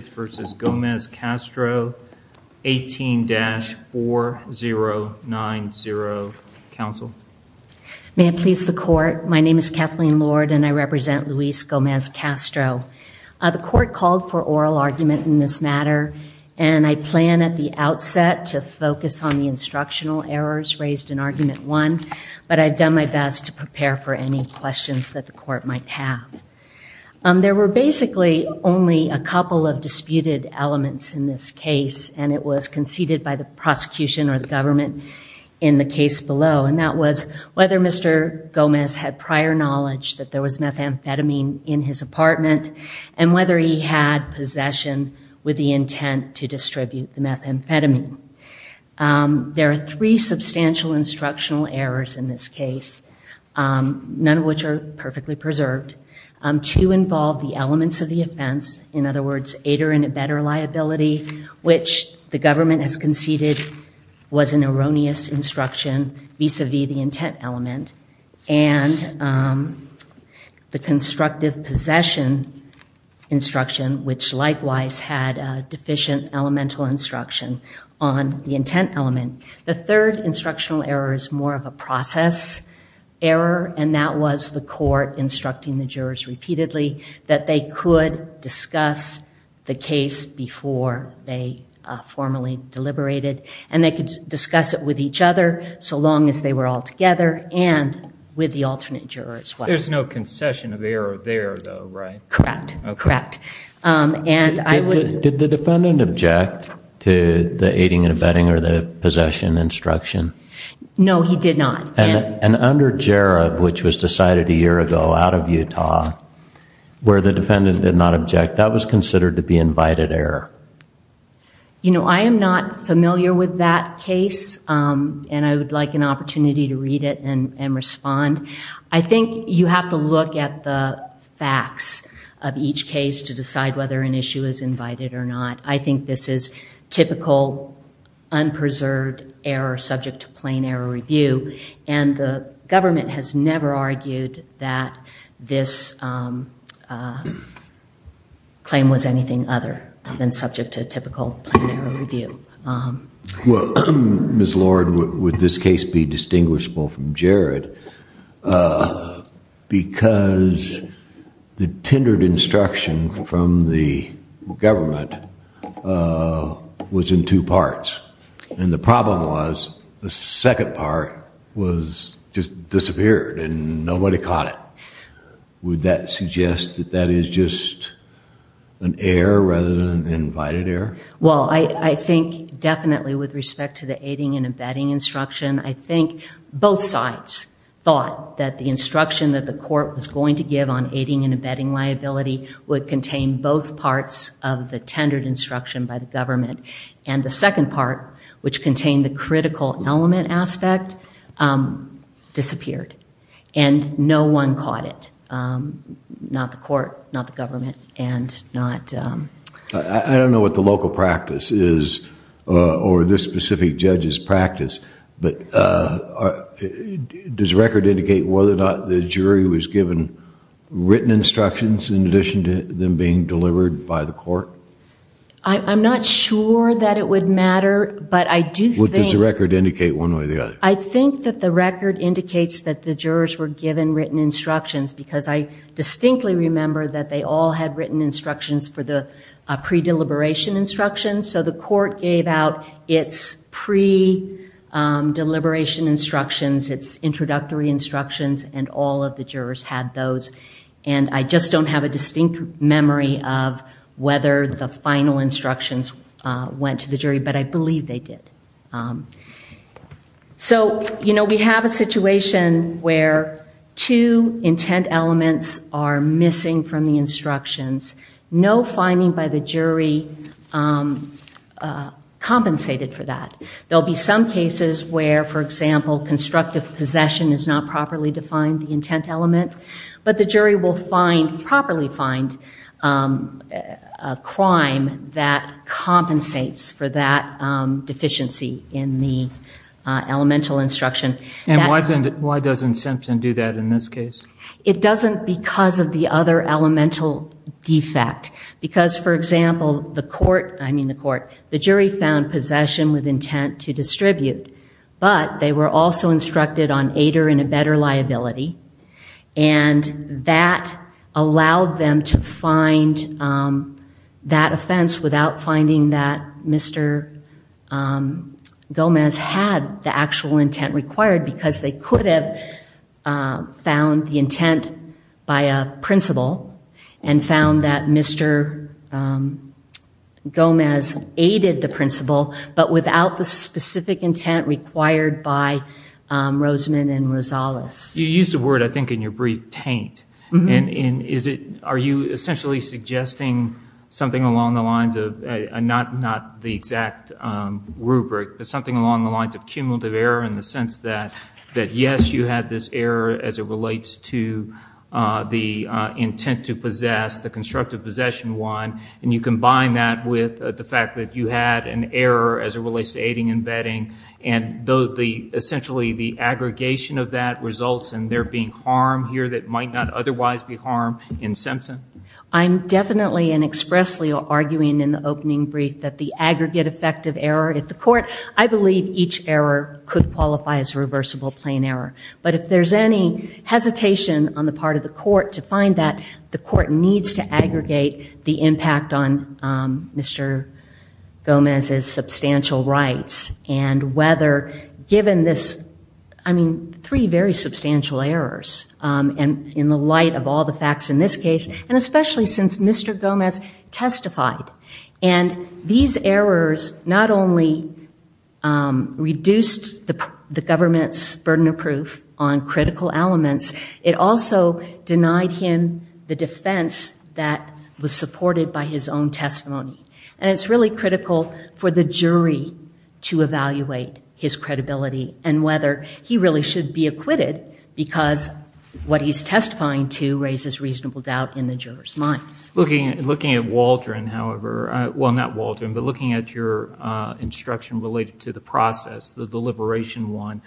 18-4090. Counsel? May it please the court, my name is Kathleen Lord and I represent Luis Gomez-Castro. The court called for oral argument in this matter and I plan at the outset to focus on the instructional errors raised in argument one, but I've done my best to prepare for any questions that the court might have. There were basically only a couple of disputed elements in this case and it was conceded by the prosecution or the government in the case below and that was whether Mr. Gomez had prior knowledge that there was methamphetamine in his apartment and whether he had possession with the intent to distribute the methamphetamine. There are three substantial instructional errors in this case, none of which are perfectly preserved. Two involve the elements of the offense, in other words, aid or embed or liability, which the government has conceded was an erroneous instruction vis-a-vis the intent element. And the constructive possession instruction, which likewise had deficient elemental instruction on the intent element. The third instructional error is more of a process error and that was the court instructing the jurors repeatedly that they could discuss the case before they formally deliberated and they could discuss it with each other so long as they were all together and with the alternate jurors. There's no concession of error there though, right? Correct, correct. Did the defendant object to the aiding and abetting or the possession instruction? No, he did not. And under Jarob, which was decided a year ago out of Utah, where the defendant did not object, that was considered to be invited error? You know, I am not familiar with that case and I would like an opportunity to read it and respond. I think you have to look at the facts of each case to decide whether an issue is invited or not. I think this is typical, unpreserved error subject to plain error review. And the government has never argued that this claim was anything other than subject to typical plain error review. Well, Ms. Lord, would this case be distinguishable from Jarod? Because the tendered instruction from the government was in two parts. And the problem was the second part was just disappeared and nobody caught it. Would that suggest that that is just an error rather than an invited error? Well, I think definitely with respect to the aiding and abetting instruction, I think both sides thought that the instruction that the court was going to give on aiding and abetting liability would contain both parts of the tendered instruction by the government. And the second part, which contained the critical element aspect, disappeared. And no one caught it. Not the court, not the government, and not... I don't know what the local practice is or this specific judge's practice, but does the record indicate whether or not the jury was given written instructions in addition to them being delivered by the court? I'm not sure that it would matter, but I do think... What does the record indicate one way or the other? I think that the record indicates that the jurors were given written instructions because I distinctly remember that they all had written instructions for the pre-deliberation instructions. So the court gave out its pre-deliberation instructions, its introductory instructions, and all of the jurors had those. And I just don't have a distinct memory of whether the final instructions went to the jury, but I believe they did. So we have a situation where two intent elements are missing from the instructions. No finding by the jury compensated for that. There will be some cases where, for example, constructive possession is not properly defined, the intent element, but the jury will find, properly find, a crime that compensates for that deficiency in the elemental instruction. And why doesn't Simpson do that in this case? It doesn't because of the other elemental defect. Because, for example, the court, I mean the court, the jury found possession with intent to distribute, but they were also instructed on aider and abetter liability, and that allowed them to find that offense without finding that Mr. Gomez had the actual intent required because they could have found the intent by a principal and found that Mr. Gomez aided the principal, but without the specific intent required by Rosamond and Rosales. You used the word, I think, in your brief, taint. Are you essentially suggesting something along the lines of, not the exact rubric, but something along the lines of cumulative error in the sense that, yes, you had this error as it relates to the intent to possess, the constructive possession one, and you combine that with the fact that you had an error as it relates to aiding and abetting, and essentially the aggregation of that results in there being harm here that might not otherwise be harm in Simpson? I'm definitely and expressly arguing in the opening brief that the aggregate effect of error could target the court. I believe each error could qualify as reversible plain error, but if there's any hesitation on the part of the court to find that, the court needs to aggregate the impact on Mr. Gomez's substantial rights and whether given this, I mean, three very substantial errors, and in the light of all the facts in this case, and especially since Mr. Gomez testified, and these errors not only reduced the government's burden of proof on critical elements, it also denied him the defense that was supported by his own testimony. And it's really critical for the jury to evaluate his credibility and whether he really should be acquitted because what he's testifying to Looking at Waldron, however, well, not Waldron, but looking at your instruction related to the process, the deliberation one,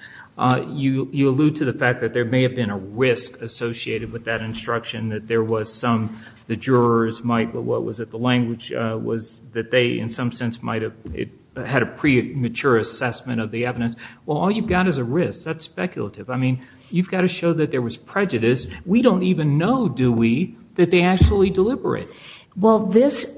you allude to the fact that there may have been a risk associated with that instruction, that there was some, the jurors might, what was it, the language was that they in some sense might have had a premature assessment of the evidence. Well, all you've got is a risk. That's speculative. I mean, you've got to show that there was prejudice. We don't even know, do we, that they actually deliberate. Well, this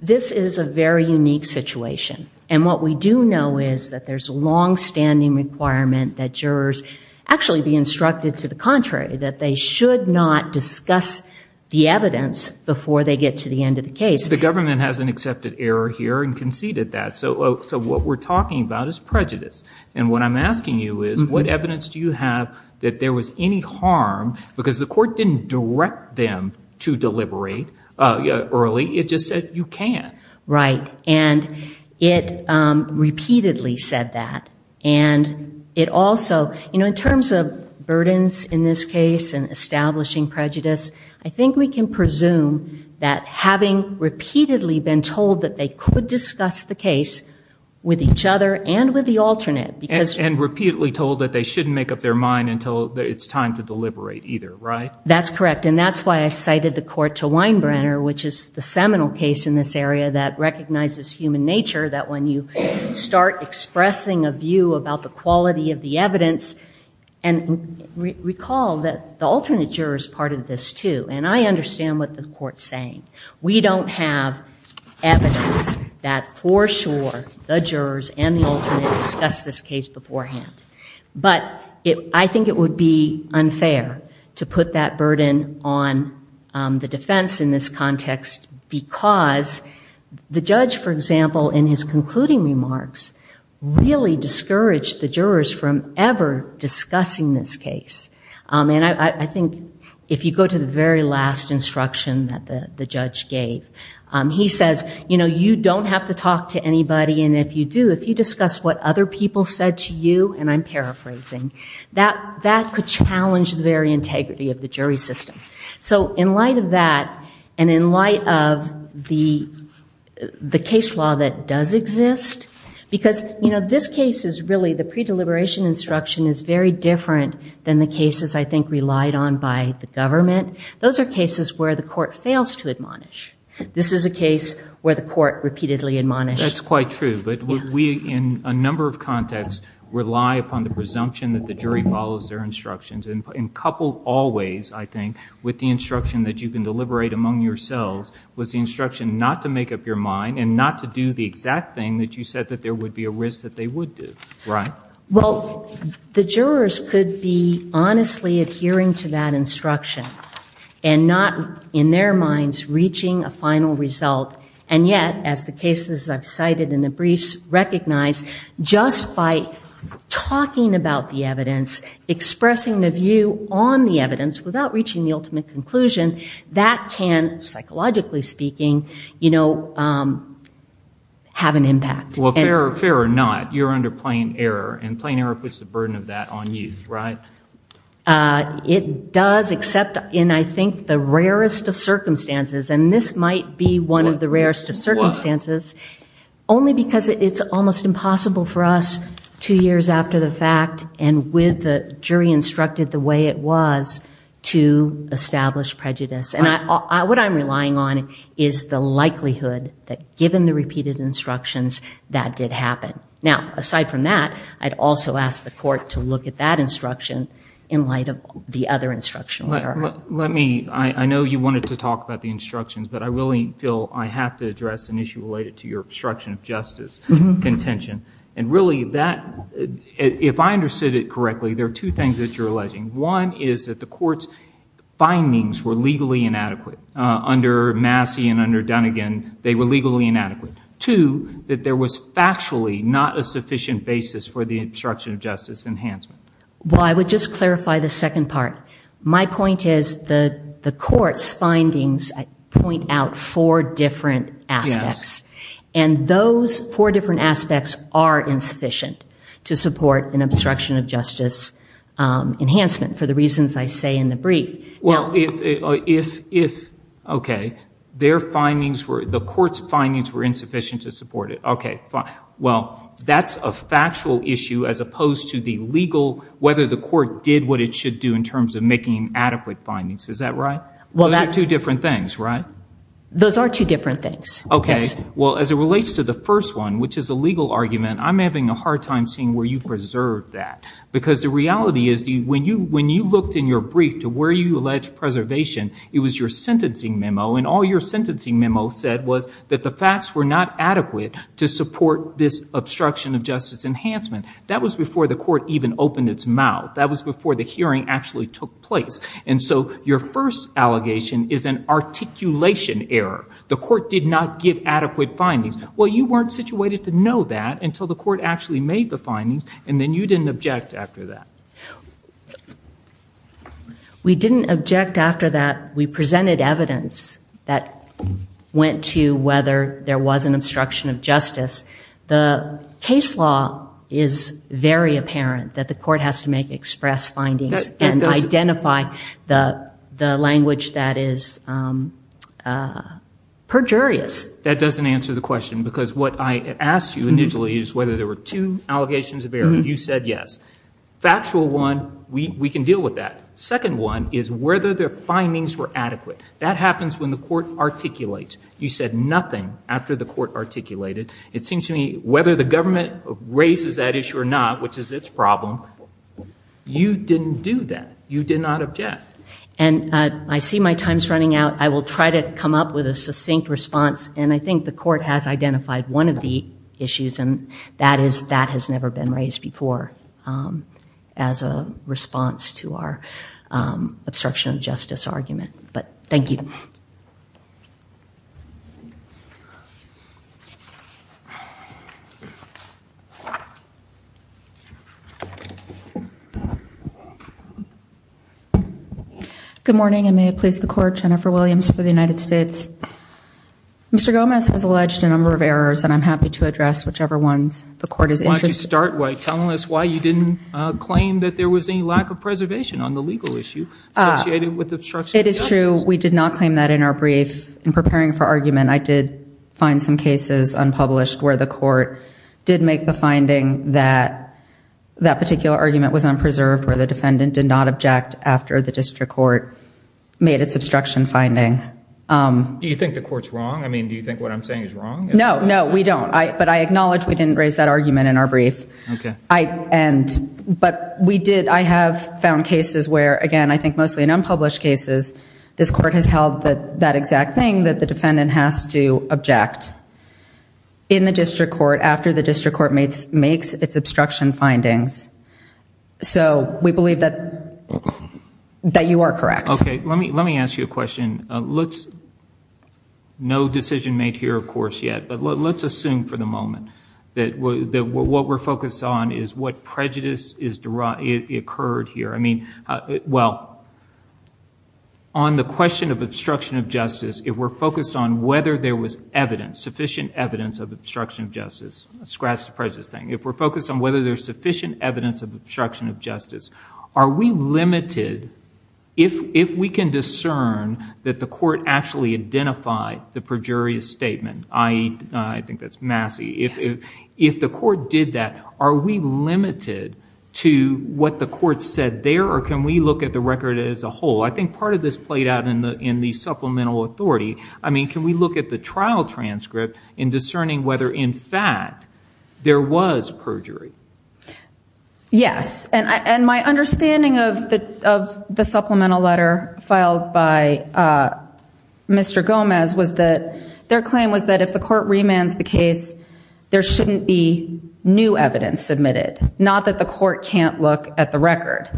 is a very unique situation. And what we do know is that there's a longstanding requirement that jurors actually be instructed to the contrary, that they should not discuss the evidence before they get to the end of the case. The government has an accepted error here and conceded that. So what we're talking about is prejudice. And what I'm asking you is what evidence do you have that there was any harm, because the court didn't direct them to deliberate early. It just said you can't. Right. And it repeatedly said that. And it also, you know, in terms of burdens in this case and establishing prejudice, I think we can presume that having repeatedly been told that they could discuss the case with each other and with the alternate. And repeatedly told that they shouldn't make up their mind until it's time to deliberate either, right? That's correct. And that's why I cited the court to Weinbrenner, which is the seminal case in this area that recognizes human nature, that when you start expressing a view about the quality of the evidence, and recall that the alternate juror is part of this, too. And I understand what the court's saying. We don't have evidence that for sure the jurors and the alternate discussed this case beforehand. But I think it would be unfair to put that burden on the defense in this context, because the judge, for example, in his concluding remarks, really discouraged the jurors from ever discussing this case. And I think if you go to the very last instruction that the judge gave, he says, you know, you don't have to talk to anybody, and if you do, if you discuss what other people said to you, and I'm paraphrasing, that could challenge the very integrity of the jury system. So in light of that, and in light of the case law that does exist, because, you know, this case is really, the pre-deliberation instruction is very different than the cases I think relied on by the government. Those are cases where the court fails to admonish. This is a case where the court repeatedly admonished. That's quite true, but we, in a number of contexts, rely upon the presumption that the jury follows their instructions. And coupled always, I think, with the instruction that you can deliberate among yourselves, was the instruction not to make up your mind and not to do the exact thing that you said that there would be a risk that they would do, right? Well, the jurors could be honestly adhering to that instruction and not, in their minds, reaching a final result. And yet, as the cases I've cited in the briefs recognize, just by talking about the evidence, expressing the view on the evidence, without reaching the ultimate conclusion, that can, psychologically speaking, you know, have an impact. Well, fair or not, you're under plain error, and plain error puts the burden of that on you, right? It does, except in, I think, the rarest of circumstances, and this might be one of the rarest of circumstances, only because it's almost impossible for us, two years after the fact, and with the jury instructed the way it was, to establish prejudice. And what I'm relying on is the likelihood that, given the repeated instructions, that did happen. Now, aside from that, I'd also ask the court to look at that instruction in light of the other instructional error. Let me, I know you wanted to talk about the instructions, but I really feel I have to address an issue related to your obstruction of justice contention. And really, that, if I understood it correctly, there are two things that you're alleging. One is that the court's findings were legally inadequate. Under Massey and under Dunnigan, they were legally inadequate. Two, that there was factually not a sufficient basis for the obstruction of justice enhancement. Well, I would just clarify the second part. My point is the court's findings point out four different aspects. And those four different aspects are insufficient to support an obstruction of justice enhancement, for the reasons I say in the brief. Well, if, okay, their findings were, the court's findings were insufficient to support it. Okay, well, that's a factual issue as opposed to the legal, whether the court did what it should do in terms of making adequate findings. Is that right? Those are two different things, right? Those are two different things. Okay, well, as it relates to the first one, which is a legal argument, I'm having a hard time seeing where you preserved that. Because the reality is when you looked in your brief to where you alleged preservation, it was your sentencing memo, and all your sentencing memo said was that the facts were not adequate to support this obstruction of justice enhancement. That was before the court even opened its mouth. That was before the hearing actually took place. And so your first allegation is an articulation error. The court did not give adequate findings. Well, you weren't situated to know that until the court actually made the findings, and then you didn't object after that. We didn't object after that. We presented evidence that went to whether there was an obstruction of justice. The case law is very apparent that the court has to make express findings and identify the language that is perjurious. That doesn't answer the question, because what I asked you initially is whether there were two allegations of error. You said yes. Factual one, we can deal with that. Second one is whether the findings were adequate. That happens when the court articulates. You said nothing after the court articulated. It seems to me whether the government raises that issue or not, which is its problem, you didn't do that. You did not object. And I see my time's running out. I will try to come up with a succinct response, and I think the court has identified one of the issues, and that has never been raised before as a response to our obstruction of justice argument. But thank you. Good morning, and may it please the Court. Jennifer Williams for the United States. Mr. Gomez has alleged a number of errors, and I'm happy to address whichever ones the court is interested in. Why don't you start by telling us why you didn't claim that there was any lack of preservation on the legal issue associated with obstruction of justice. It is true. We did not claim that in our brief. In preparing for argument, I did find some cases unpublished where the court did make the finding that that particular argument was unpreserved, where the defendant did not object after the district court made its obstruction finding. Do you think the court's wrong? I mean, do you think what I'm saying is wrong? No, no, we don't. But I acknowledge we didn't raise that argument in our brief. But I have found cases where, again, I think mostly in unpublished cases, this court has held that exact thing, that the defendant has to object in the district court after the district court makes its obstruction findings. So we believe that you are correct. Okay, let me ask you a question. No decision made here, of course, yet. But let's assume for the moment that what we're focused on is what prejudice occurred here. I mean, well, on the question of obstruction of justice, if we're focused on whether there was sufficient evidence of obstruction of justice, a scratch to prejudice thing, if we're focused on whether there's sufficient evidence of obstruction of justice, are we limited, if we can discern that the court actually identified the perjurious statement, i.e., I think that's Massey, if the court did that, are we limited to what the court said there, or can we look at the record as a whole? I think part of this played out in the supplemental authority. I mean, can we look at the trial transcript in discerning whether, in fact, there was perjury? Yes, and my understanding of the supplemental letter filed by Mr. Gomez was that their claim was that if the court remands the case, there shouldn't be new evidence submitted, not that the court can't look at the record.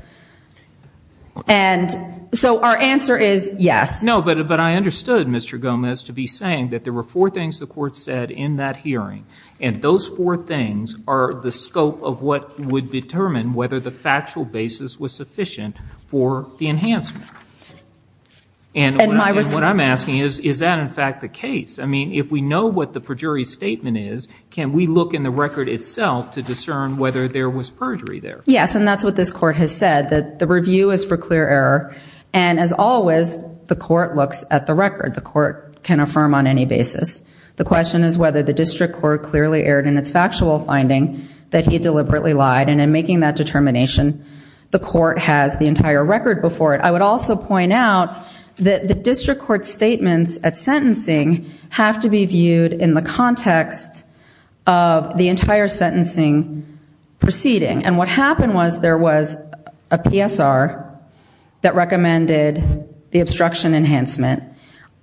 And so our answer is yes. No, but I understood Mr. Gomez to be saying that there were four things the court said in that hearing, and those four things are the scope of what would determine whether the factual basis was sufficient for the enhancement. And what I'm asking is, is that in fact the case? I mean, if we know what the perjury statement is, can we look in the record itself to discern whether there was perjury there? Yes, and that's what this court has said, that the review is for clear error, and as always, the court looks at the record. The court can affirm on any basis. The question is whether the district court clearly erred in its factual finding that he deliberately lied, and in making that determination, the court has the entire record before it. I would also point out that the district court's statements at sentencing have to be viewed in the context of the entire sentencing proceeding, and what happened was there was a PSR that recommended the obstruction enhancement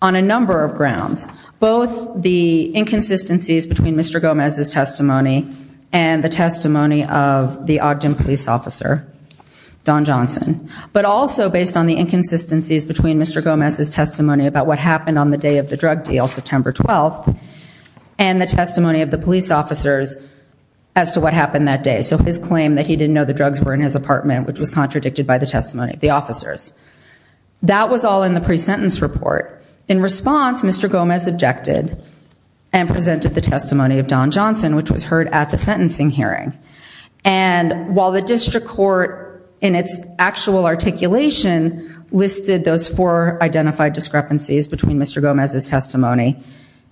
on a number of grounds, both the inconsistencies between Mr. Gomez's testimony and the testimony of the Ogden police officer, Don Johnson, but also based on the inconsistencies between Mr. Gomez's testimony about what happened on the day of the drug deal, September 12th, and the testimony of the police officers as to what happened that day. So his claim that he didn't know the drugs were in his apartment, which was contradicted by the testimony of the officers. That was all in the pre-sentence report. In response, Mr. Gomez objected and presented the testimony of Don Johnson, which was heard at the sentencing hearing. And while the district court in its actual articulation listed those four identified discrepancies between Mr. Gomez's testimony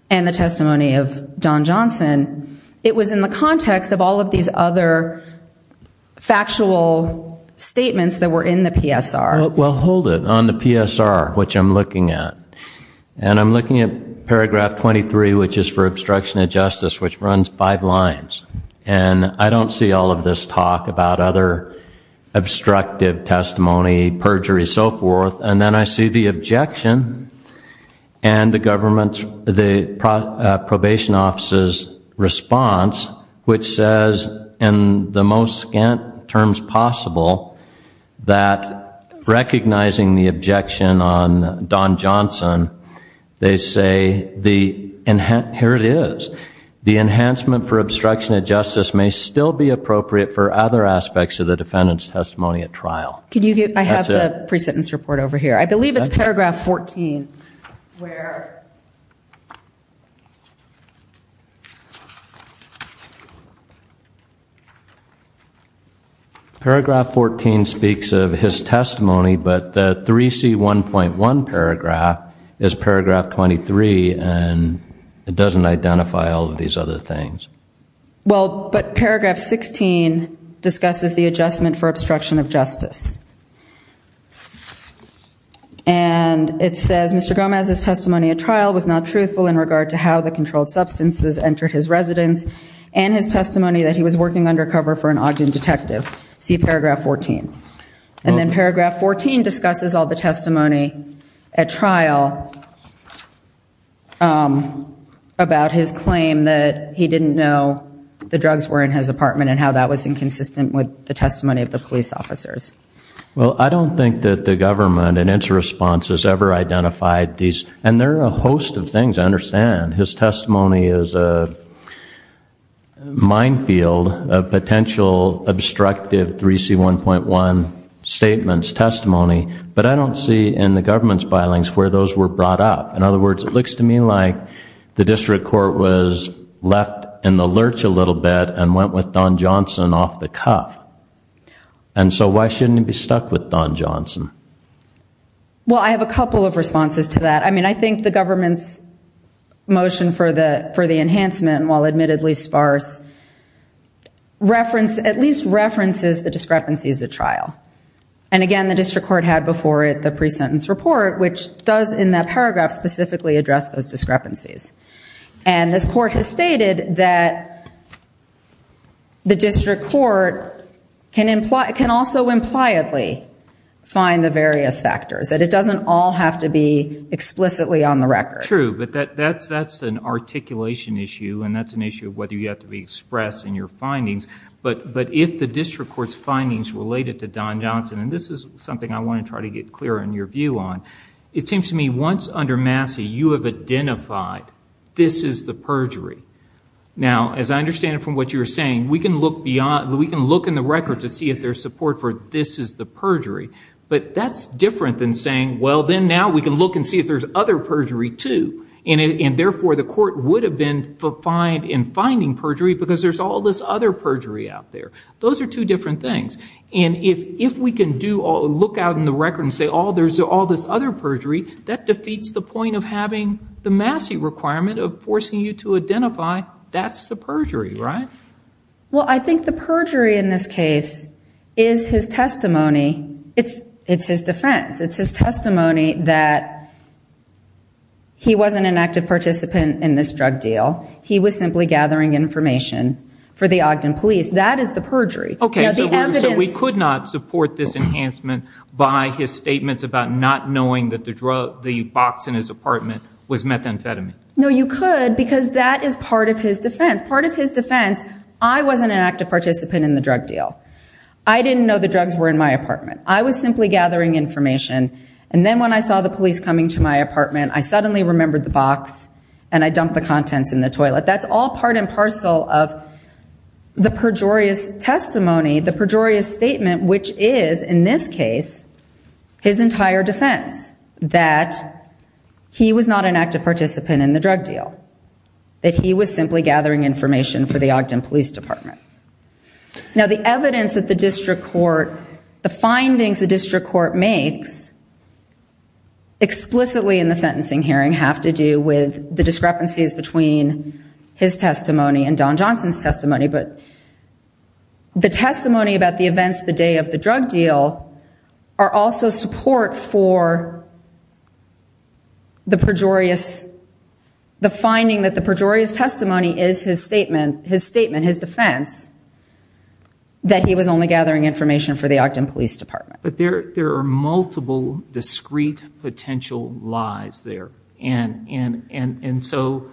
and the testimony of Don Johnson, it was in the context of all of these other factual statements that were in the PSR. Well, hold it. On the PSR, which I'm looking at, and I'm looking at paragraph 23, which is for obstruction of justice, which runs five lines, and I don't see all of this talk about other obstructive testimony, perjury, so forth, and then I see the objection and the government's, the probation office's response, which says, in the most scant terms possible, that recognizing the objection on Don Johnson, they say, here it is, the enhancement for obstruction of justice may still be appropriate for other aspects of the defendant's testimony at trial. I have the pre-sentence report over here. I believe it's paragraph 14 where... ...is paragraph 23, and it doesn't identify all of these other things. Well, but paragraph 16 discusses the adjustment for obstruction of justice. And it says, Mr. Gomez's testimony at trial was not truthful in regard to how the controlled substances entered his residence and his testimony that he was working undercover for an Ogden detective. See paragraph 14. And then paragraph 14 discusses all the testimony at trial about his claim that he didn't know the drugs were in his apartment and how that was inconsistent with the testimony of the police officers. Well, I don't think that the government in its response has ever identified these. And there are a host of things, I understand. His testimony is a minefield of potential obstructive 3C1.1 statements, testimony. But I don't see in the government's filings where those were brought up. In other words, it looks to me like the district court was left in the lurch a little bit and went with Don Johnson off the cuff. And so why shouldn't he be stuck with Don Johnson? Well, I have a couple of responses to that. I mean, I think the government's motion for the enhancement, while admittedly sparse, at least references the discrepancies at trial. And again, the district court had before it the pre-sentence report, which does in that paragraph specifically address those discrepancies. And this court has stated that the district court can also impliedly find the various factors, that it doesn't all have to be explicitly on the record. True, but that's an articulation issue, and that's an issue of whether you have to be expressed in your findings. But if the district court's findings related to Don Johnson, and this is something I want to try to get clearer in your view on, it seems to me once under Massey you have identified this is the perjury. Now, as I understand it from what you were saying, we can look in the record to see if there's support for this is the perjury. But that's different than saying, well, then now we can look and see if there's other perjury, too. And therefore, the court would have been fined in finding perjury because there's all this other perjury out there. Those are two different things. And if we can look out in the record and say, oh, there's all this other perjury, that defeats the point of having the Massey requirement of forcing you to identify that's the perjury, right? Well, I think the perjury in this case is his testimony. It's his defense. It's his testimony that he wasn't an active participant in this drug deal. He was simply gathering information for the Ogden police. That is the perjury. Okay, so we could not support this enhancement by his statements about not knowing that the box in his apartment was methamphetamine. No, you could because that is part of his defense. Part of his defense, I wasn't an active participant in the drug deal. I didn't know the drugs were in my apartment. I was simply gathering information, and then when I saw the police coming to my apartment, I suddenly remembered the box and I dumped the contents in the toilet. That's all part and parcel of the perjurious testimony, the perjurious statement, which is, in this case, his entire defense that he was not an active participant in the drug deal, that he was simply gathering information for the Ogden police department. Now, the evidence that the district court, the findings the district court makes explicitly in the sentencing hearing have to do with the discrepancies between his testimony and Don Johnson's testimony, but the testimony about the events the day of the drug deal are also support for the perjurious, the finding that the perjurious testimony is his statement, his statement, his defense, that he was only gathering information for the Ogden police department. But there are multiple discrete potential lies there, and so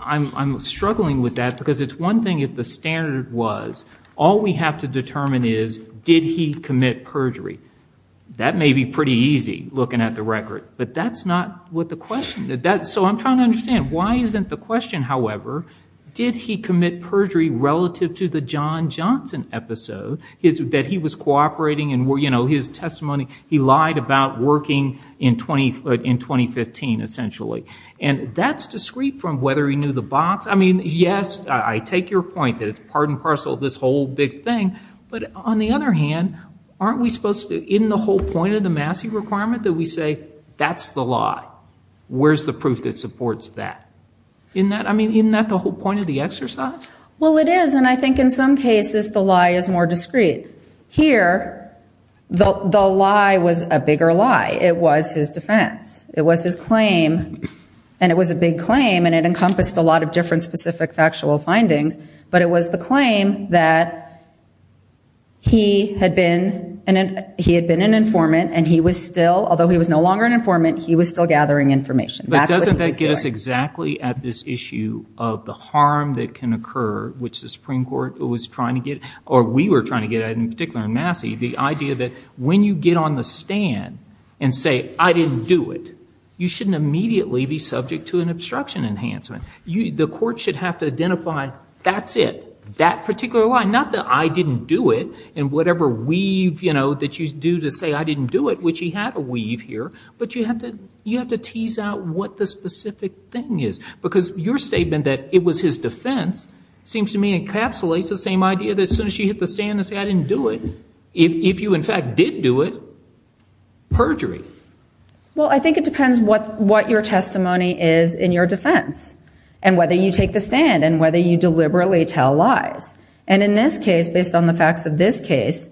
I'm struggling with that because it's one thing if the standard was, all we have to determine is, did he commit perjury? That may be pretty easy looking at the record, but that's not what the question is. So I'm trying to understand, why isn't the question, however, did he commit perjury relative to the John Johnson episode that he was cooperating, and his testimony, he lied about working in 2015, essentially. And that's discrete from whether he knew the box. I mean, yes, I take your point that it's part and parcel of this whole big thing, but on the other hand, aren't we supposed to, in the whole point of the Massey requirement, that we say, that's the lie. Where's the proof that supports that? Isn't that the whole point of the exercise? Well, it is, and I think in some cases the lie is more discrete. Here, the lie was a bigger lie. It was his defense. It was his claim, and it was a big claim, and it encompassed a lot of different specific factual findings, but it was the claim that he had been an informant and he was still, although he was no longer an informant, he was still gathering information. But doesn't that get us exactly at this issue of the harm that can occur, which the Supreme Court was trying to get, or we were trying to get at in particular in Massey, the idea that when you get on the stand and say, I didn't do it, you shouldn't immediately be subject to an obstruction enhancement. The court should have to identify, that's it, that particular lie, not the I didn't do it and whatever weave, you know, that you do to say I didn't do it, which he had a weave here, but you have to tease out what the specific thing is. Because your statement that it was his defense seems to me encapsulates the same idea that as soon as you hit the stand and say I didn't do it, if you in fact did do it, perjury. Well, I think it depends what your testimony is in your defense and whether you take the stand and whether you deliberately tell lies. And in this case, based on the facts of this case,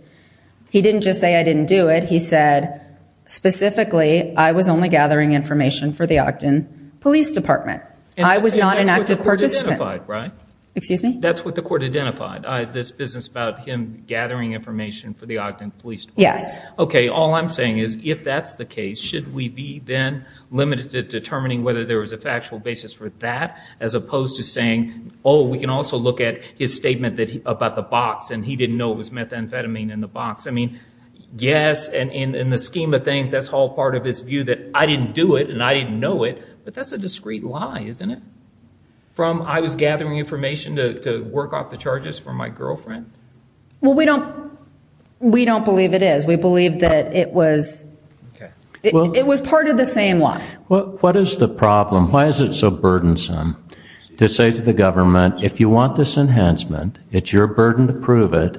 he didn't just say I didn't do it. He said specifically I was only gathering information for the Ogden Police Department. I was not an active participant. Excuse me? That's what the court identified, this business about him gathering information for the Ogden Police Department. Yes. Okay, all I'm saying is if that's the case, should we be then limited to determining whether there was a factual basis for that as opposed to saying, oh, we can also look at his statement about the box and he didn't know it was methamphetamine in the box. I mean, yes, in the scheme of things, that's all part of his view that I didn't do it and I didn't know it, but that's a discreet lie, isn't it, from I was gathering information to work off the charges for my girlfriend? Well, we don't believe it is. We believe that it was part of the same lie. What is the problem? Why is it so burdensome to say to the government if you want this enhancement, it's your burden to prove it,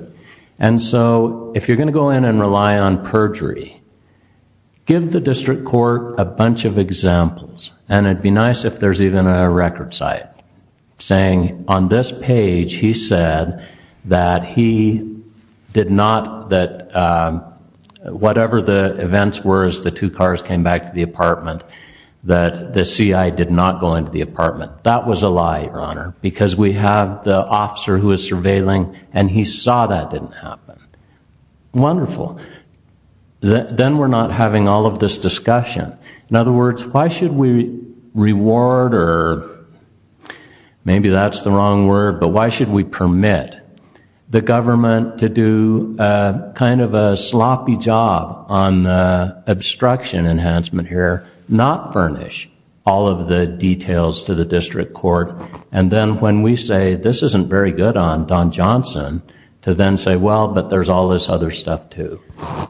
and so if you're going to go in and rely on perjury, give the district court a bunch of examples and it would be nice if there's even a record site saying on this page he said that he did not, that whatever the events were as the two cars came back to the apartment, that the C.I. did not go into the apartment. That was a lie, Your Honor, because we have the officer who is surveilling and he saw that didn't happen. Wonderful. Then we're not having all of this discussion. In other words, why should we reward or maybe that's the wrong word, but why should we permit the government to do kind of a sloppy job on the obstruction enhancement here, not furnish all of the details to the district court, and then when we say this isn't very good on Don Johnson to then say, well, but there's all this other stuff too.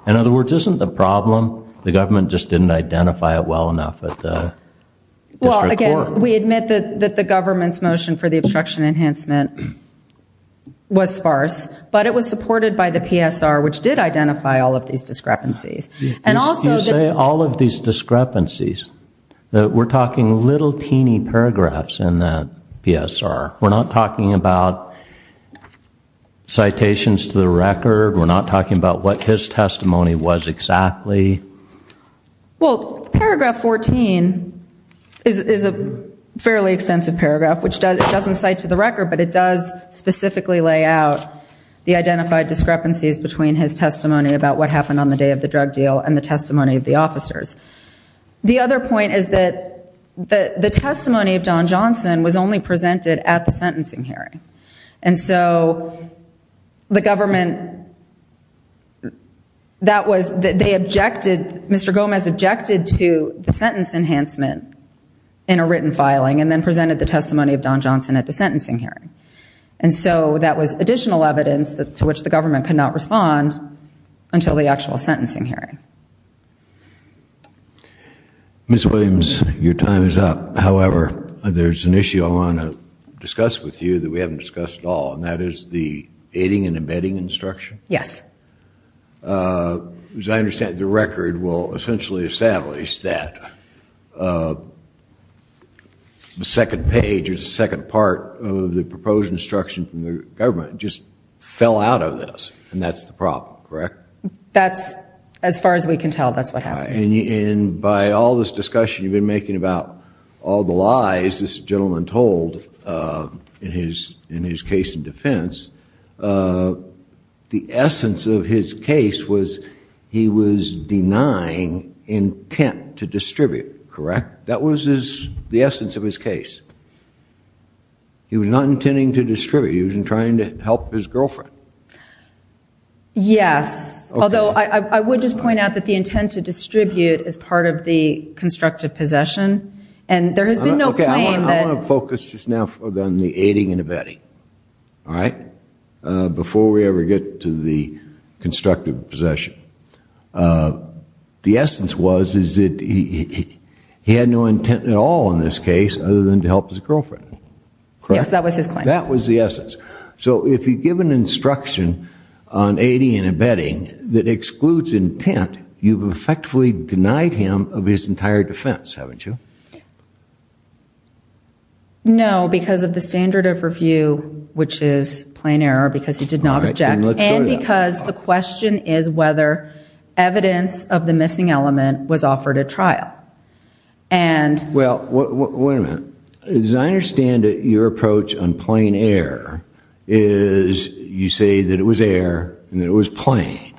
In other words, isn't the problem the government just didn't identify it well enough at the district court? Well, again, we admit that the government's motion for the obstruction enhancement was sparse, but it was supported by the PSR, which did identify all of these discrepancies. You say all of these discrepancies. We're talking little teeny paragraphs in that PSR. We're not talking about citations to the record. We're not talking about what his testimony was exactly. Well, paragraph 14 is a fairly extensive paragraph, which doesn't cite to the record, but it does specifically lay out the identified discrepancies between his testimony about what happened on the day of the drug deal and the testimony of the officers. The other point is that the testimony of Don Johnson was only presented at the sentencing hearing, and so the government, that was, they objected, Mr. Gomez objected to the sentence enhancement in a written filing and then presented the testimony of Don Johnson at the sentencing hearing. And so that was additional evidence to which the government could not respond until the actual sentencing hearing. Ms. Williams, your time is up. However, there's an issue I want to discuss with you that we haven't discussed at all, and that is the aiding and abetting instruction. Yes. As I understand it, the record will essentially establish that the second page or the second part of the proposed instruction from the government just fell out of this, and that's the problem, correct? That's, as far as we can tell, that's what happened. And by all this discussion you've been making about all the lies this gentleman told in his case in defense, the essence of his case was he was denying intent to distribute, correct? That was the essence of his case. He was not intending to distribute. He was trying to help his girlfriend. Yes. Although I would just point out that the intent to distribute is part of the constructive possession, and there has been no claim that. I want to focus just now on the aiding and abetting, all right, before we ever get to the constructive possession. The essence was that he had no intent at all in this case other than to help his girlfriend. Yes, that was his claim. That was the essence. So if you give an instruction on aiding and abetting that excludes intent, you've effectively denied him of his entire defense, haven't you? No, because of the standard of review, which is plain error, because he did not object, and because the question is whether evidence of the missing element was offered at trial. Well, wait a minute. As I understand it, your approach on plain error is you say that it was error and it was plain,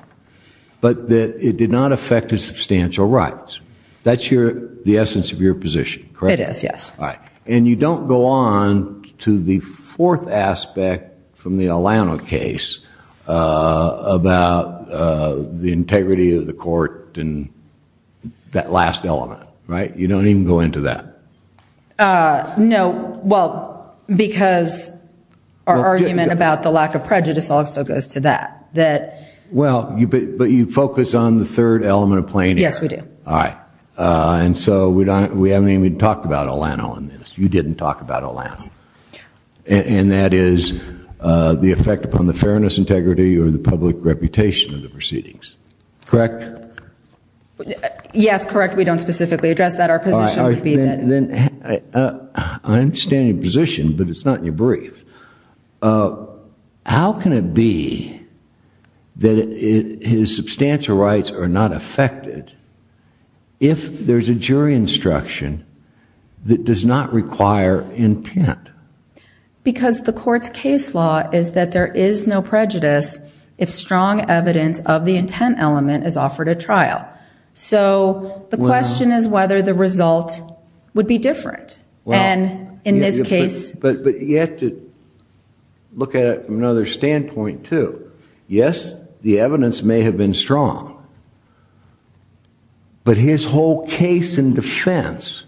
but that it did not affect his substantial rights. That's the essence of your position, correct? It is, yes. All right. And you don't go on to the fourth aspect from the Alano case about the integrity of the court and that last element, right? You don't even go into that. No, well, because our argument about the lack of prejudice also goes to that. Well, but you focus on the third element of plain error. Yes, we do. All right. And so we haven't even talked about Alano in this. You didn't talk about Alano. And that is the effect upon the fairness, integrity, or the public reputation of the proceedings, correct? Yes, correct. We don't specifically address that. Our position would be that. I understand your position, but it's not in your brief. How can it be that his substantial rights are not affected if there's a jury instruction that does not require intent? Because the court's case law is that there is no prejudice if strong evidence of the intent element is offered at trial. So the question is whether the result would be different. In this case... But you have to look at it from another standpoint, too. Yes, the evidence may have been strong, but his whole case and defense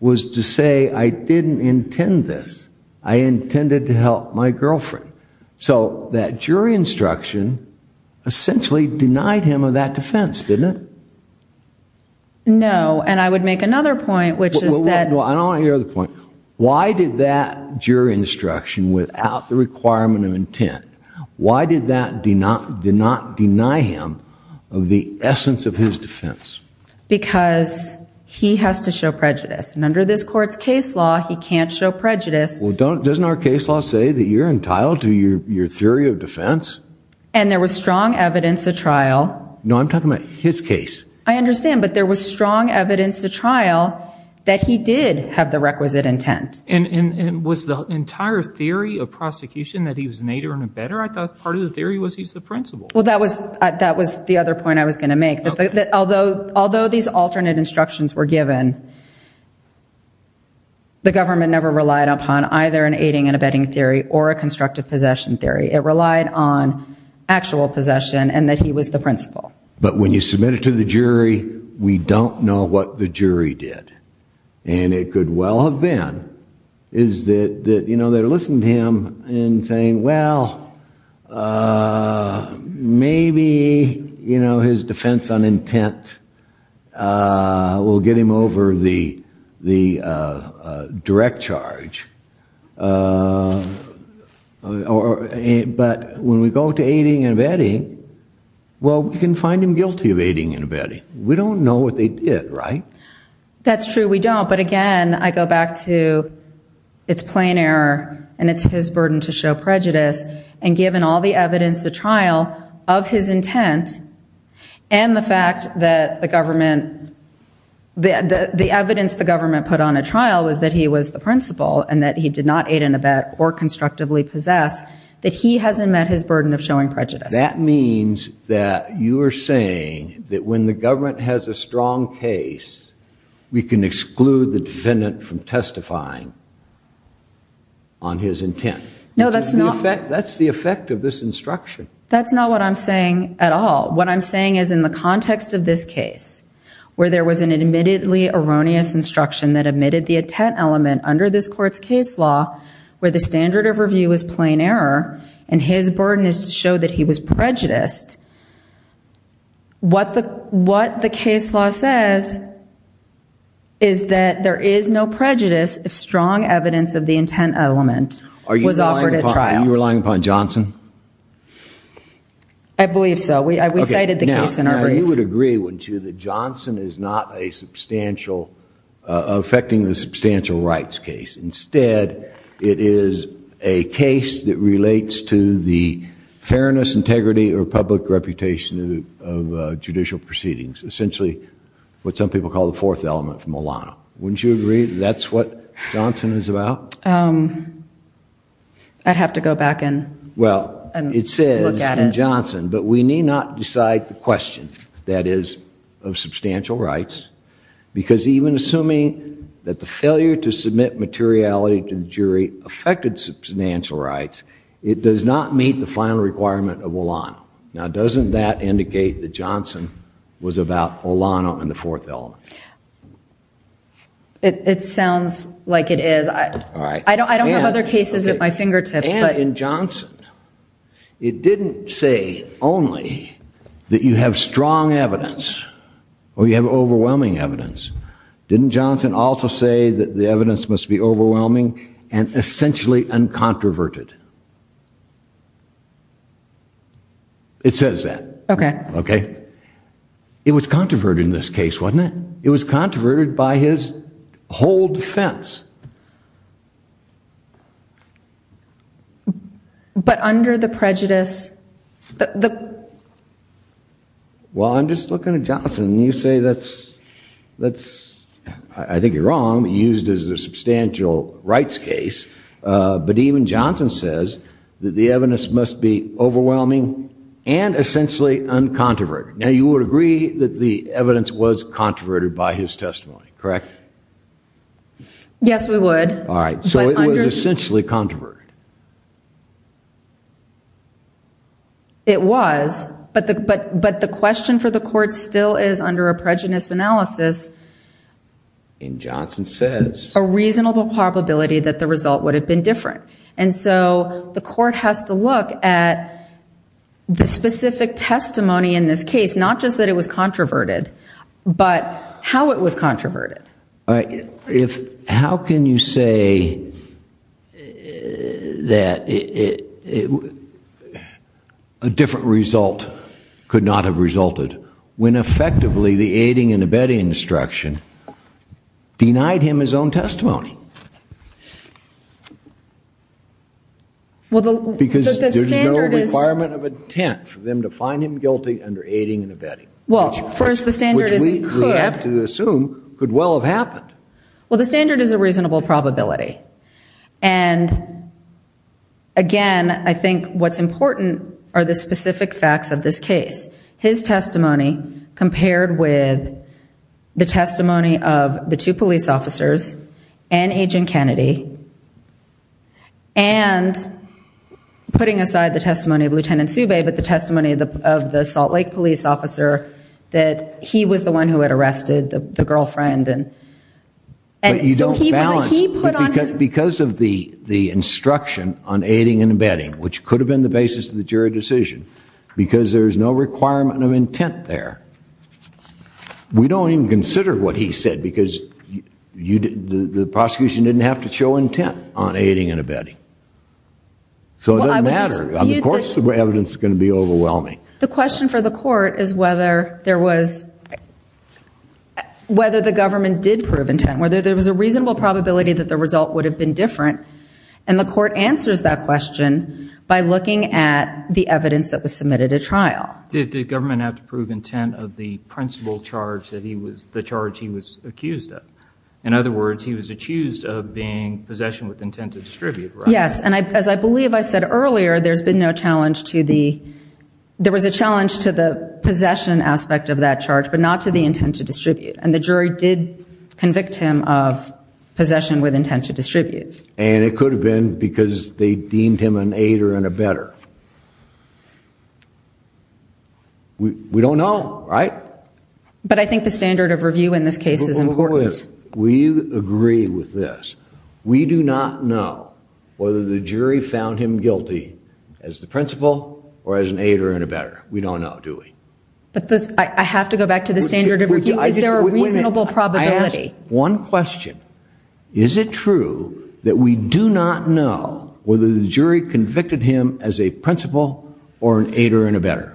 was to say, I didn't intend this. I intended to help my girlfriend. So that jury instruction essentially denied him of that defense, didn't it? I don't want to hear the point. Why did that jury instruction, without the requirement of intent, why did that not deny him of the essence of his defense? Because he has to show prejudice. And under this court's case law, he can't show prejudice. Well, doesn't our case law say that you're entitled to your theory of defense? And there was strong evidence at trial. No, I'm talking about his case. I understand, but there was strong evidence at trial that he did have the requisite intent. And was the entire theory of prosecution that he was an aider and abetter? I thought part of the theory was he's the principal. Well, that was the other point I was going to make. Although these alternate instructions were given, the government never relied upon either an aiding and abetting theory or a constructive possession theory. It relied on actual possession and that he was the principal. But when you submit it to the jury, we don't know what the jury did. And it could well have been that they listened to him in saying, well, maybe his defense on intent will get him over the direct charge. But when we go to aiding and abetting, well, we can find him guilty of aiding and abetting. We don't know what they did, right? That's true. We don't. But again, I go back to it's plain error and it's his burden to show prejudice. And given all the evidence at trial of his intent and the fact that the evidence the government put on at trial was that he was the principal and that he did not aid and abet or constructively possess, that he hasn't met his burden of showing prejudice. That means that you are saying that when the government has a strong case, we can exclude the defendant from testifying on his intent. No, that's not. That's the effect of this instruction. That's not what I'm saying at all. What I'm saying is in the context of this case, where there was an admittedly erroneous instruction that admitted the intent element under this court's case law where the standard of review is plain error and his burden is to show that he was prejudiced, what the case law says is that there is no prejudice if strong evidence of the intent element was offered at trial. Are you relying upon Johnson? I believe so. We cited the case in our brief. I would agree, wouldn't you, that Johnson is not a substantial, affecting the substantial rights case. Instead, it is a case that relates to the fairness, integrity, or public reputation of judicial proceedings, essentially what some people call the fourth element from Milano. Wouldn't you agree that's what Johnson is about? I'd have to go back and look at it. It says in Johnson, but we need not decide the question, that is of substantial rights, because even assuming that the failure to submit materiality to the jury affected substantial rights, it does not meet the final requirement of Milano. Now, doesn't that indicate that Johnson was about Milano and the fourth element? It sounds like it is. I don't have other cases at my fingertips. And in Johnson, it didn't say only that you have strong evidence or you have overwhelming evidence. Didn't Johnson also say that the evidence must be overwhelming and essentially uncontroverted? It says that. Okay. Okay. It was controverted in this case, wasn't it? It was controverted by his whole defense. But under the prejudice? Well, I'm just looking at Johnson, and you say that's, I think you're wrong, used as a substantial rights case. But even Johnson says that the evidence must be overwhelming and essentially uncontroverted. Now, you would agree that the evidence was controverted by his testimony, correct? Yes, we would. All right. So it was essentially controverted? It was. But the question for the court still is under a prejudice analysis. And Johnson says? A reasonable probability that the result would have been different. And so the court has to look at the specific testimony in this case, not just that it was controverted, but how it was controverted. How can you say that a different result could not have resulted when effectively the aiding and abetting instruction denied him his own testimony? Because there's no requirement of intent for them to find him guilty under aiding and abetting, which we have to assume could well have happened. Well, the standard is a reasonable probability. And, again, I think what's important are the specific facts of this case. His testimony compared with the testimony of the two police officers and Agent Kennedy, and putting aside the testimony of Lieutenant Subay but the testimony of the Salt Lake police officer, that he was the one who had arrested the girlfriend. But you don't balance. Because of the instruction on aiding and abetting, which could have been the basis of the jury decision, because there's no requirement of intent there, we don't even consider what he said because the prosecution didn't have to show intent on aiding and abetting. So it doesn't matter. Of course the evidence is going to be overwhelming. The question for the court is whether the government did prove intent, whether there was a reasonable probability that the result would have been different. And the court answers that question by looking at the evidence that was submitted at trial. Did the government have to prove intent of the principal charge, the charge he was accused of? In other words, he was accused of being possession with intent to distribute, right? Yes, and as I believe I said earlier, there was a challenge to the possession aspect of that charge but not to the intent to distribute. And the jury did convict him of possession with intent to distribute. And it could have been because they deemed him an aider and abetter. We don't know, right? But I think the standard of review in this case is important. We agree with this. We do not know whether the jury found him guilty as the principal or as an aider and abetter. We don't know, do we? I have to go back to the standard of review. Is there a reasonable probability? I ask one question. Is it true that we do not know whether the jury convicted him as a principal or an aider and abetter?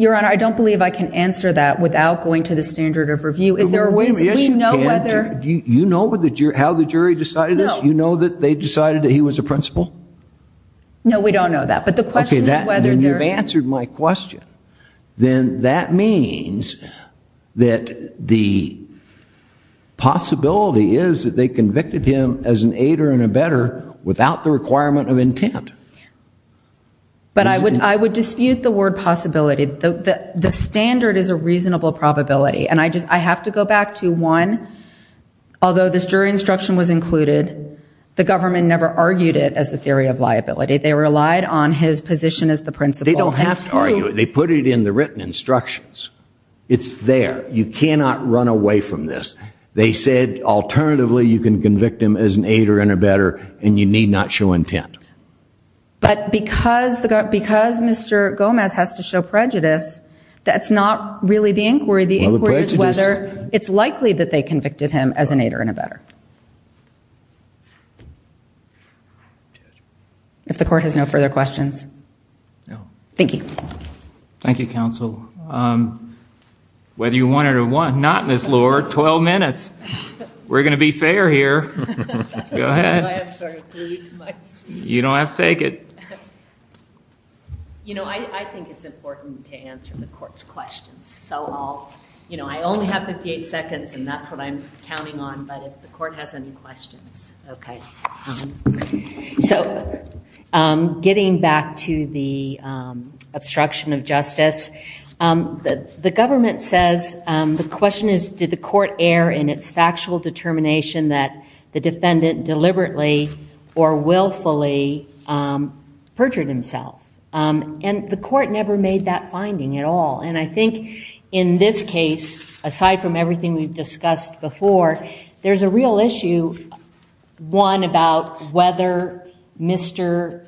Your Honor, I don't believe I can answer that without going to the standard of review. Wait a minute. Do you know how the jury decided this? Do you know that they decided that he was a principal? No, we don't know that. Okay, then you've answered my question. Then that means that the possibility is that they convicted him as an aider and abetter without the requirement of intent. But I would dispute the word possibility. The standard is a reasonable probability. And I have to go back to, one, although this jury instruction was included, the government never argued it as the theory of liability. They relied on his position as the principal. They don't have to argue it. They put it in the written instructions. It's there. You cannot run away from this. They said, alternatively, you can convict him as an aider and abetter and you need not show intent. But because Mr. Gomez has to show prejudice, that's not really the inquiry. The inquiry is whether it's likely that they convicted him as an aider and abetter. If the court has no further questions. No. Thank you. Thank you, counsel. Whether you want it or not, Ms. Lohr, 12 minutes. We're going to be fair here. Go ahead. I'm sorry. You don't have to take it. You know, I think it's important to answer the court's questions. So I'll, you know, I only have 58 seconds and that's what I'm counting on. But if the court has any questions. Okay. So getting back to the obstruction of justice, the government says the question is, did the court err in its factual determination that the defendant deliberately or willfully perjured himself? And the court never made that finding at all. And I think in this case, aside from everything we've discussed before, there's a real issue, one, about whether Mr.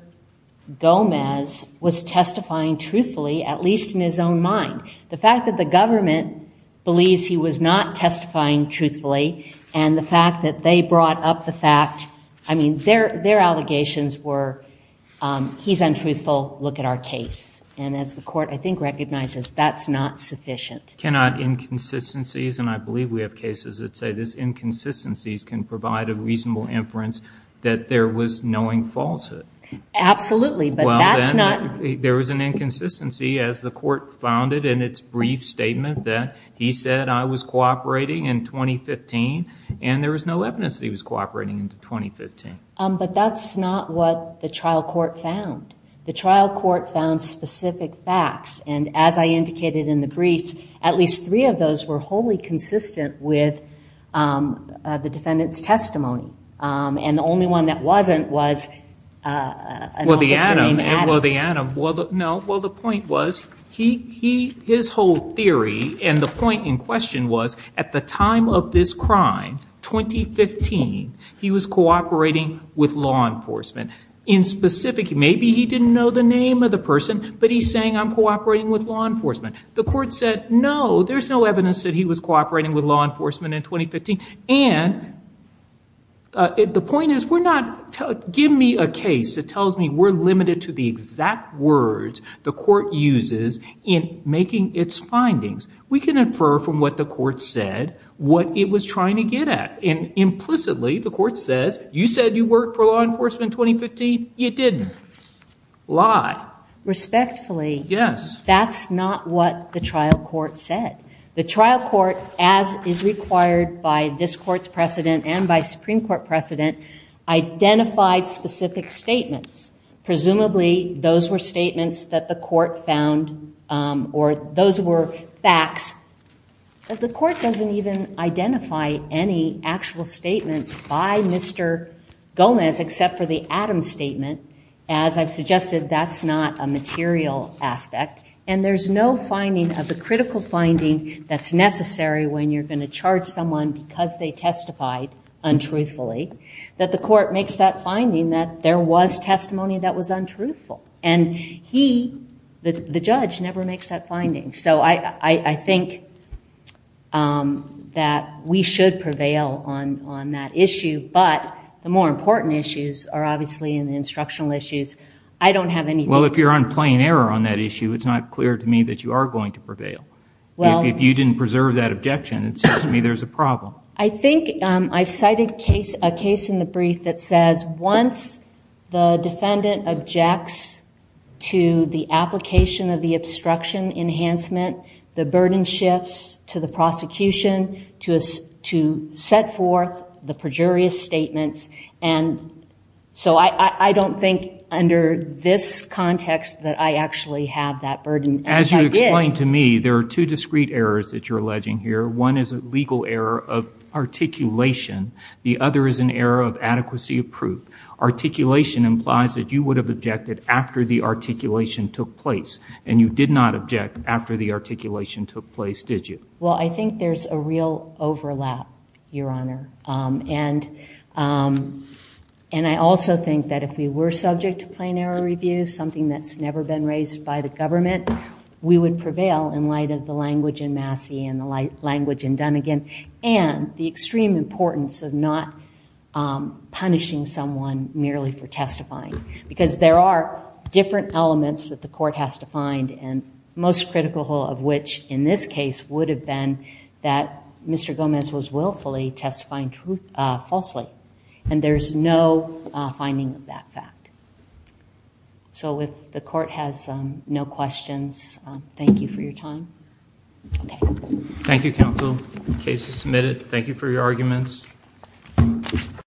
Gomez was testifying truthfully, at least in his own mind. The fact that the government believes he was not testifying truthfully and the fact that they brought up the fact, I mean, their allegations were, he's untruthful, look at our case. And as the court, I think, recognizes, that's not sufficient. Cannot inconsistencies, and I believe we have cases that say this, inconsistencies can provide a reasonable inference that there was knowing falsehood. Absolutely, but that's not. There was an inconsistency as the court found it in its brief statement that he said I was cooperating in 2015 and there was no evidence that he was cooperating in 2015. But that's not what the trial court found. The trial court found specific facts. And as I indicated in the brief, at least three of those were wholly consistent with the defendant's testimony. And the only one that wasn't was a non-discerning Adam. Well, the Adam, well, the point was, his whole theory and the point in question was at the time of this crime, 2015, he was cooperating with law enforcement. In specific, maybe he didn't know the name of the person, but he's saying I'm cooperating with law enforcement. The court said no, there's no evidence that he was cooperating with law enforcement in 2015. And the point is, give me a case that tells me we're limited to the exact words the court uses in making its findings. We can infer from what the court said what it was trying to get at. And implicitly, the court says, you said you worked for law enforcement in 2015. You didn't. Lie. Respectfully, that's not what the trial court said. The trial court, as is required by this court's precedent and by Supreme Court precedent, identified specific statements. Presumably, those were statements that the court found or those were facts. But the court doesn't even identify any actual statements by Mr. Gomez except for the Adams statement. As I've suggested, that's not a material aspect. And there's no finding of the critical finding that's necessary when you're going to charge someone because they testified untruthfully, that the court makes that finding that there was testimony that was untruthful. And he, the judge, never makes that finding. So I think that we should prevail on that issue. But the more important issues are obviously the instructional issues. I don't have anything to say. Well, if you're on plain error on that issue, it's not clear to me that you are going to prevail. If you didn't preserve that objection, it seems to me there's a problem. I think I've cited a case in the brief that says once the defendant objects to the application of the obstruction enhancement, the burden shifts to the prosecution to set forth the perjurious statements. And so I don't think under this context that I actually have that burden. As you explained to me, there are two discrete errors that you're alleging here. One is a legal error of articulation. The other is an error of adequacy of proof. Articulation implies that you would have objected after the articulation took place. And you did not object after the articulation took place, did you? Well, I think there's a real overlap, Your Honor. And I also think that if we were subject to plain error review, something that's never been raised by the government, we would prevail in light of the language in Massey and the language in Dunnegan and the extreme importance of not punishing someone merely for testifying because there are different elements that the court has to find and most critical of which, in this case, would have been that Mr. Gomez was willfully testifying falsely. And there's no finding of that fact. So if the court has no questions, thank you for your time. Thank you, counsel. Case is submitted. Thank you for your arguments.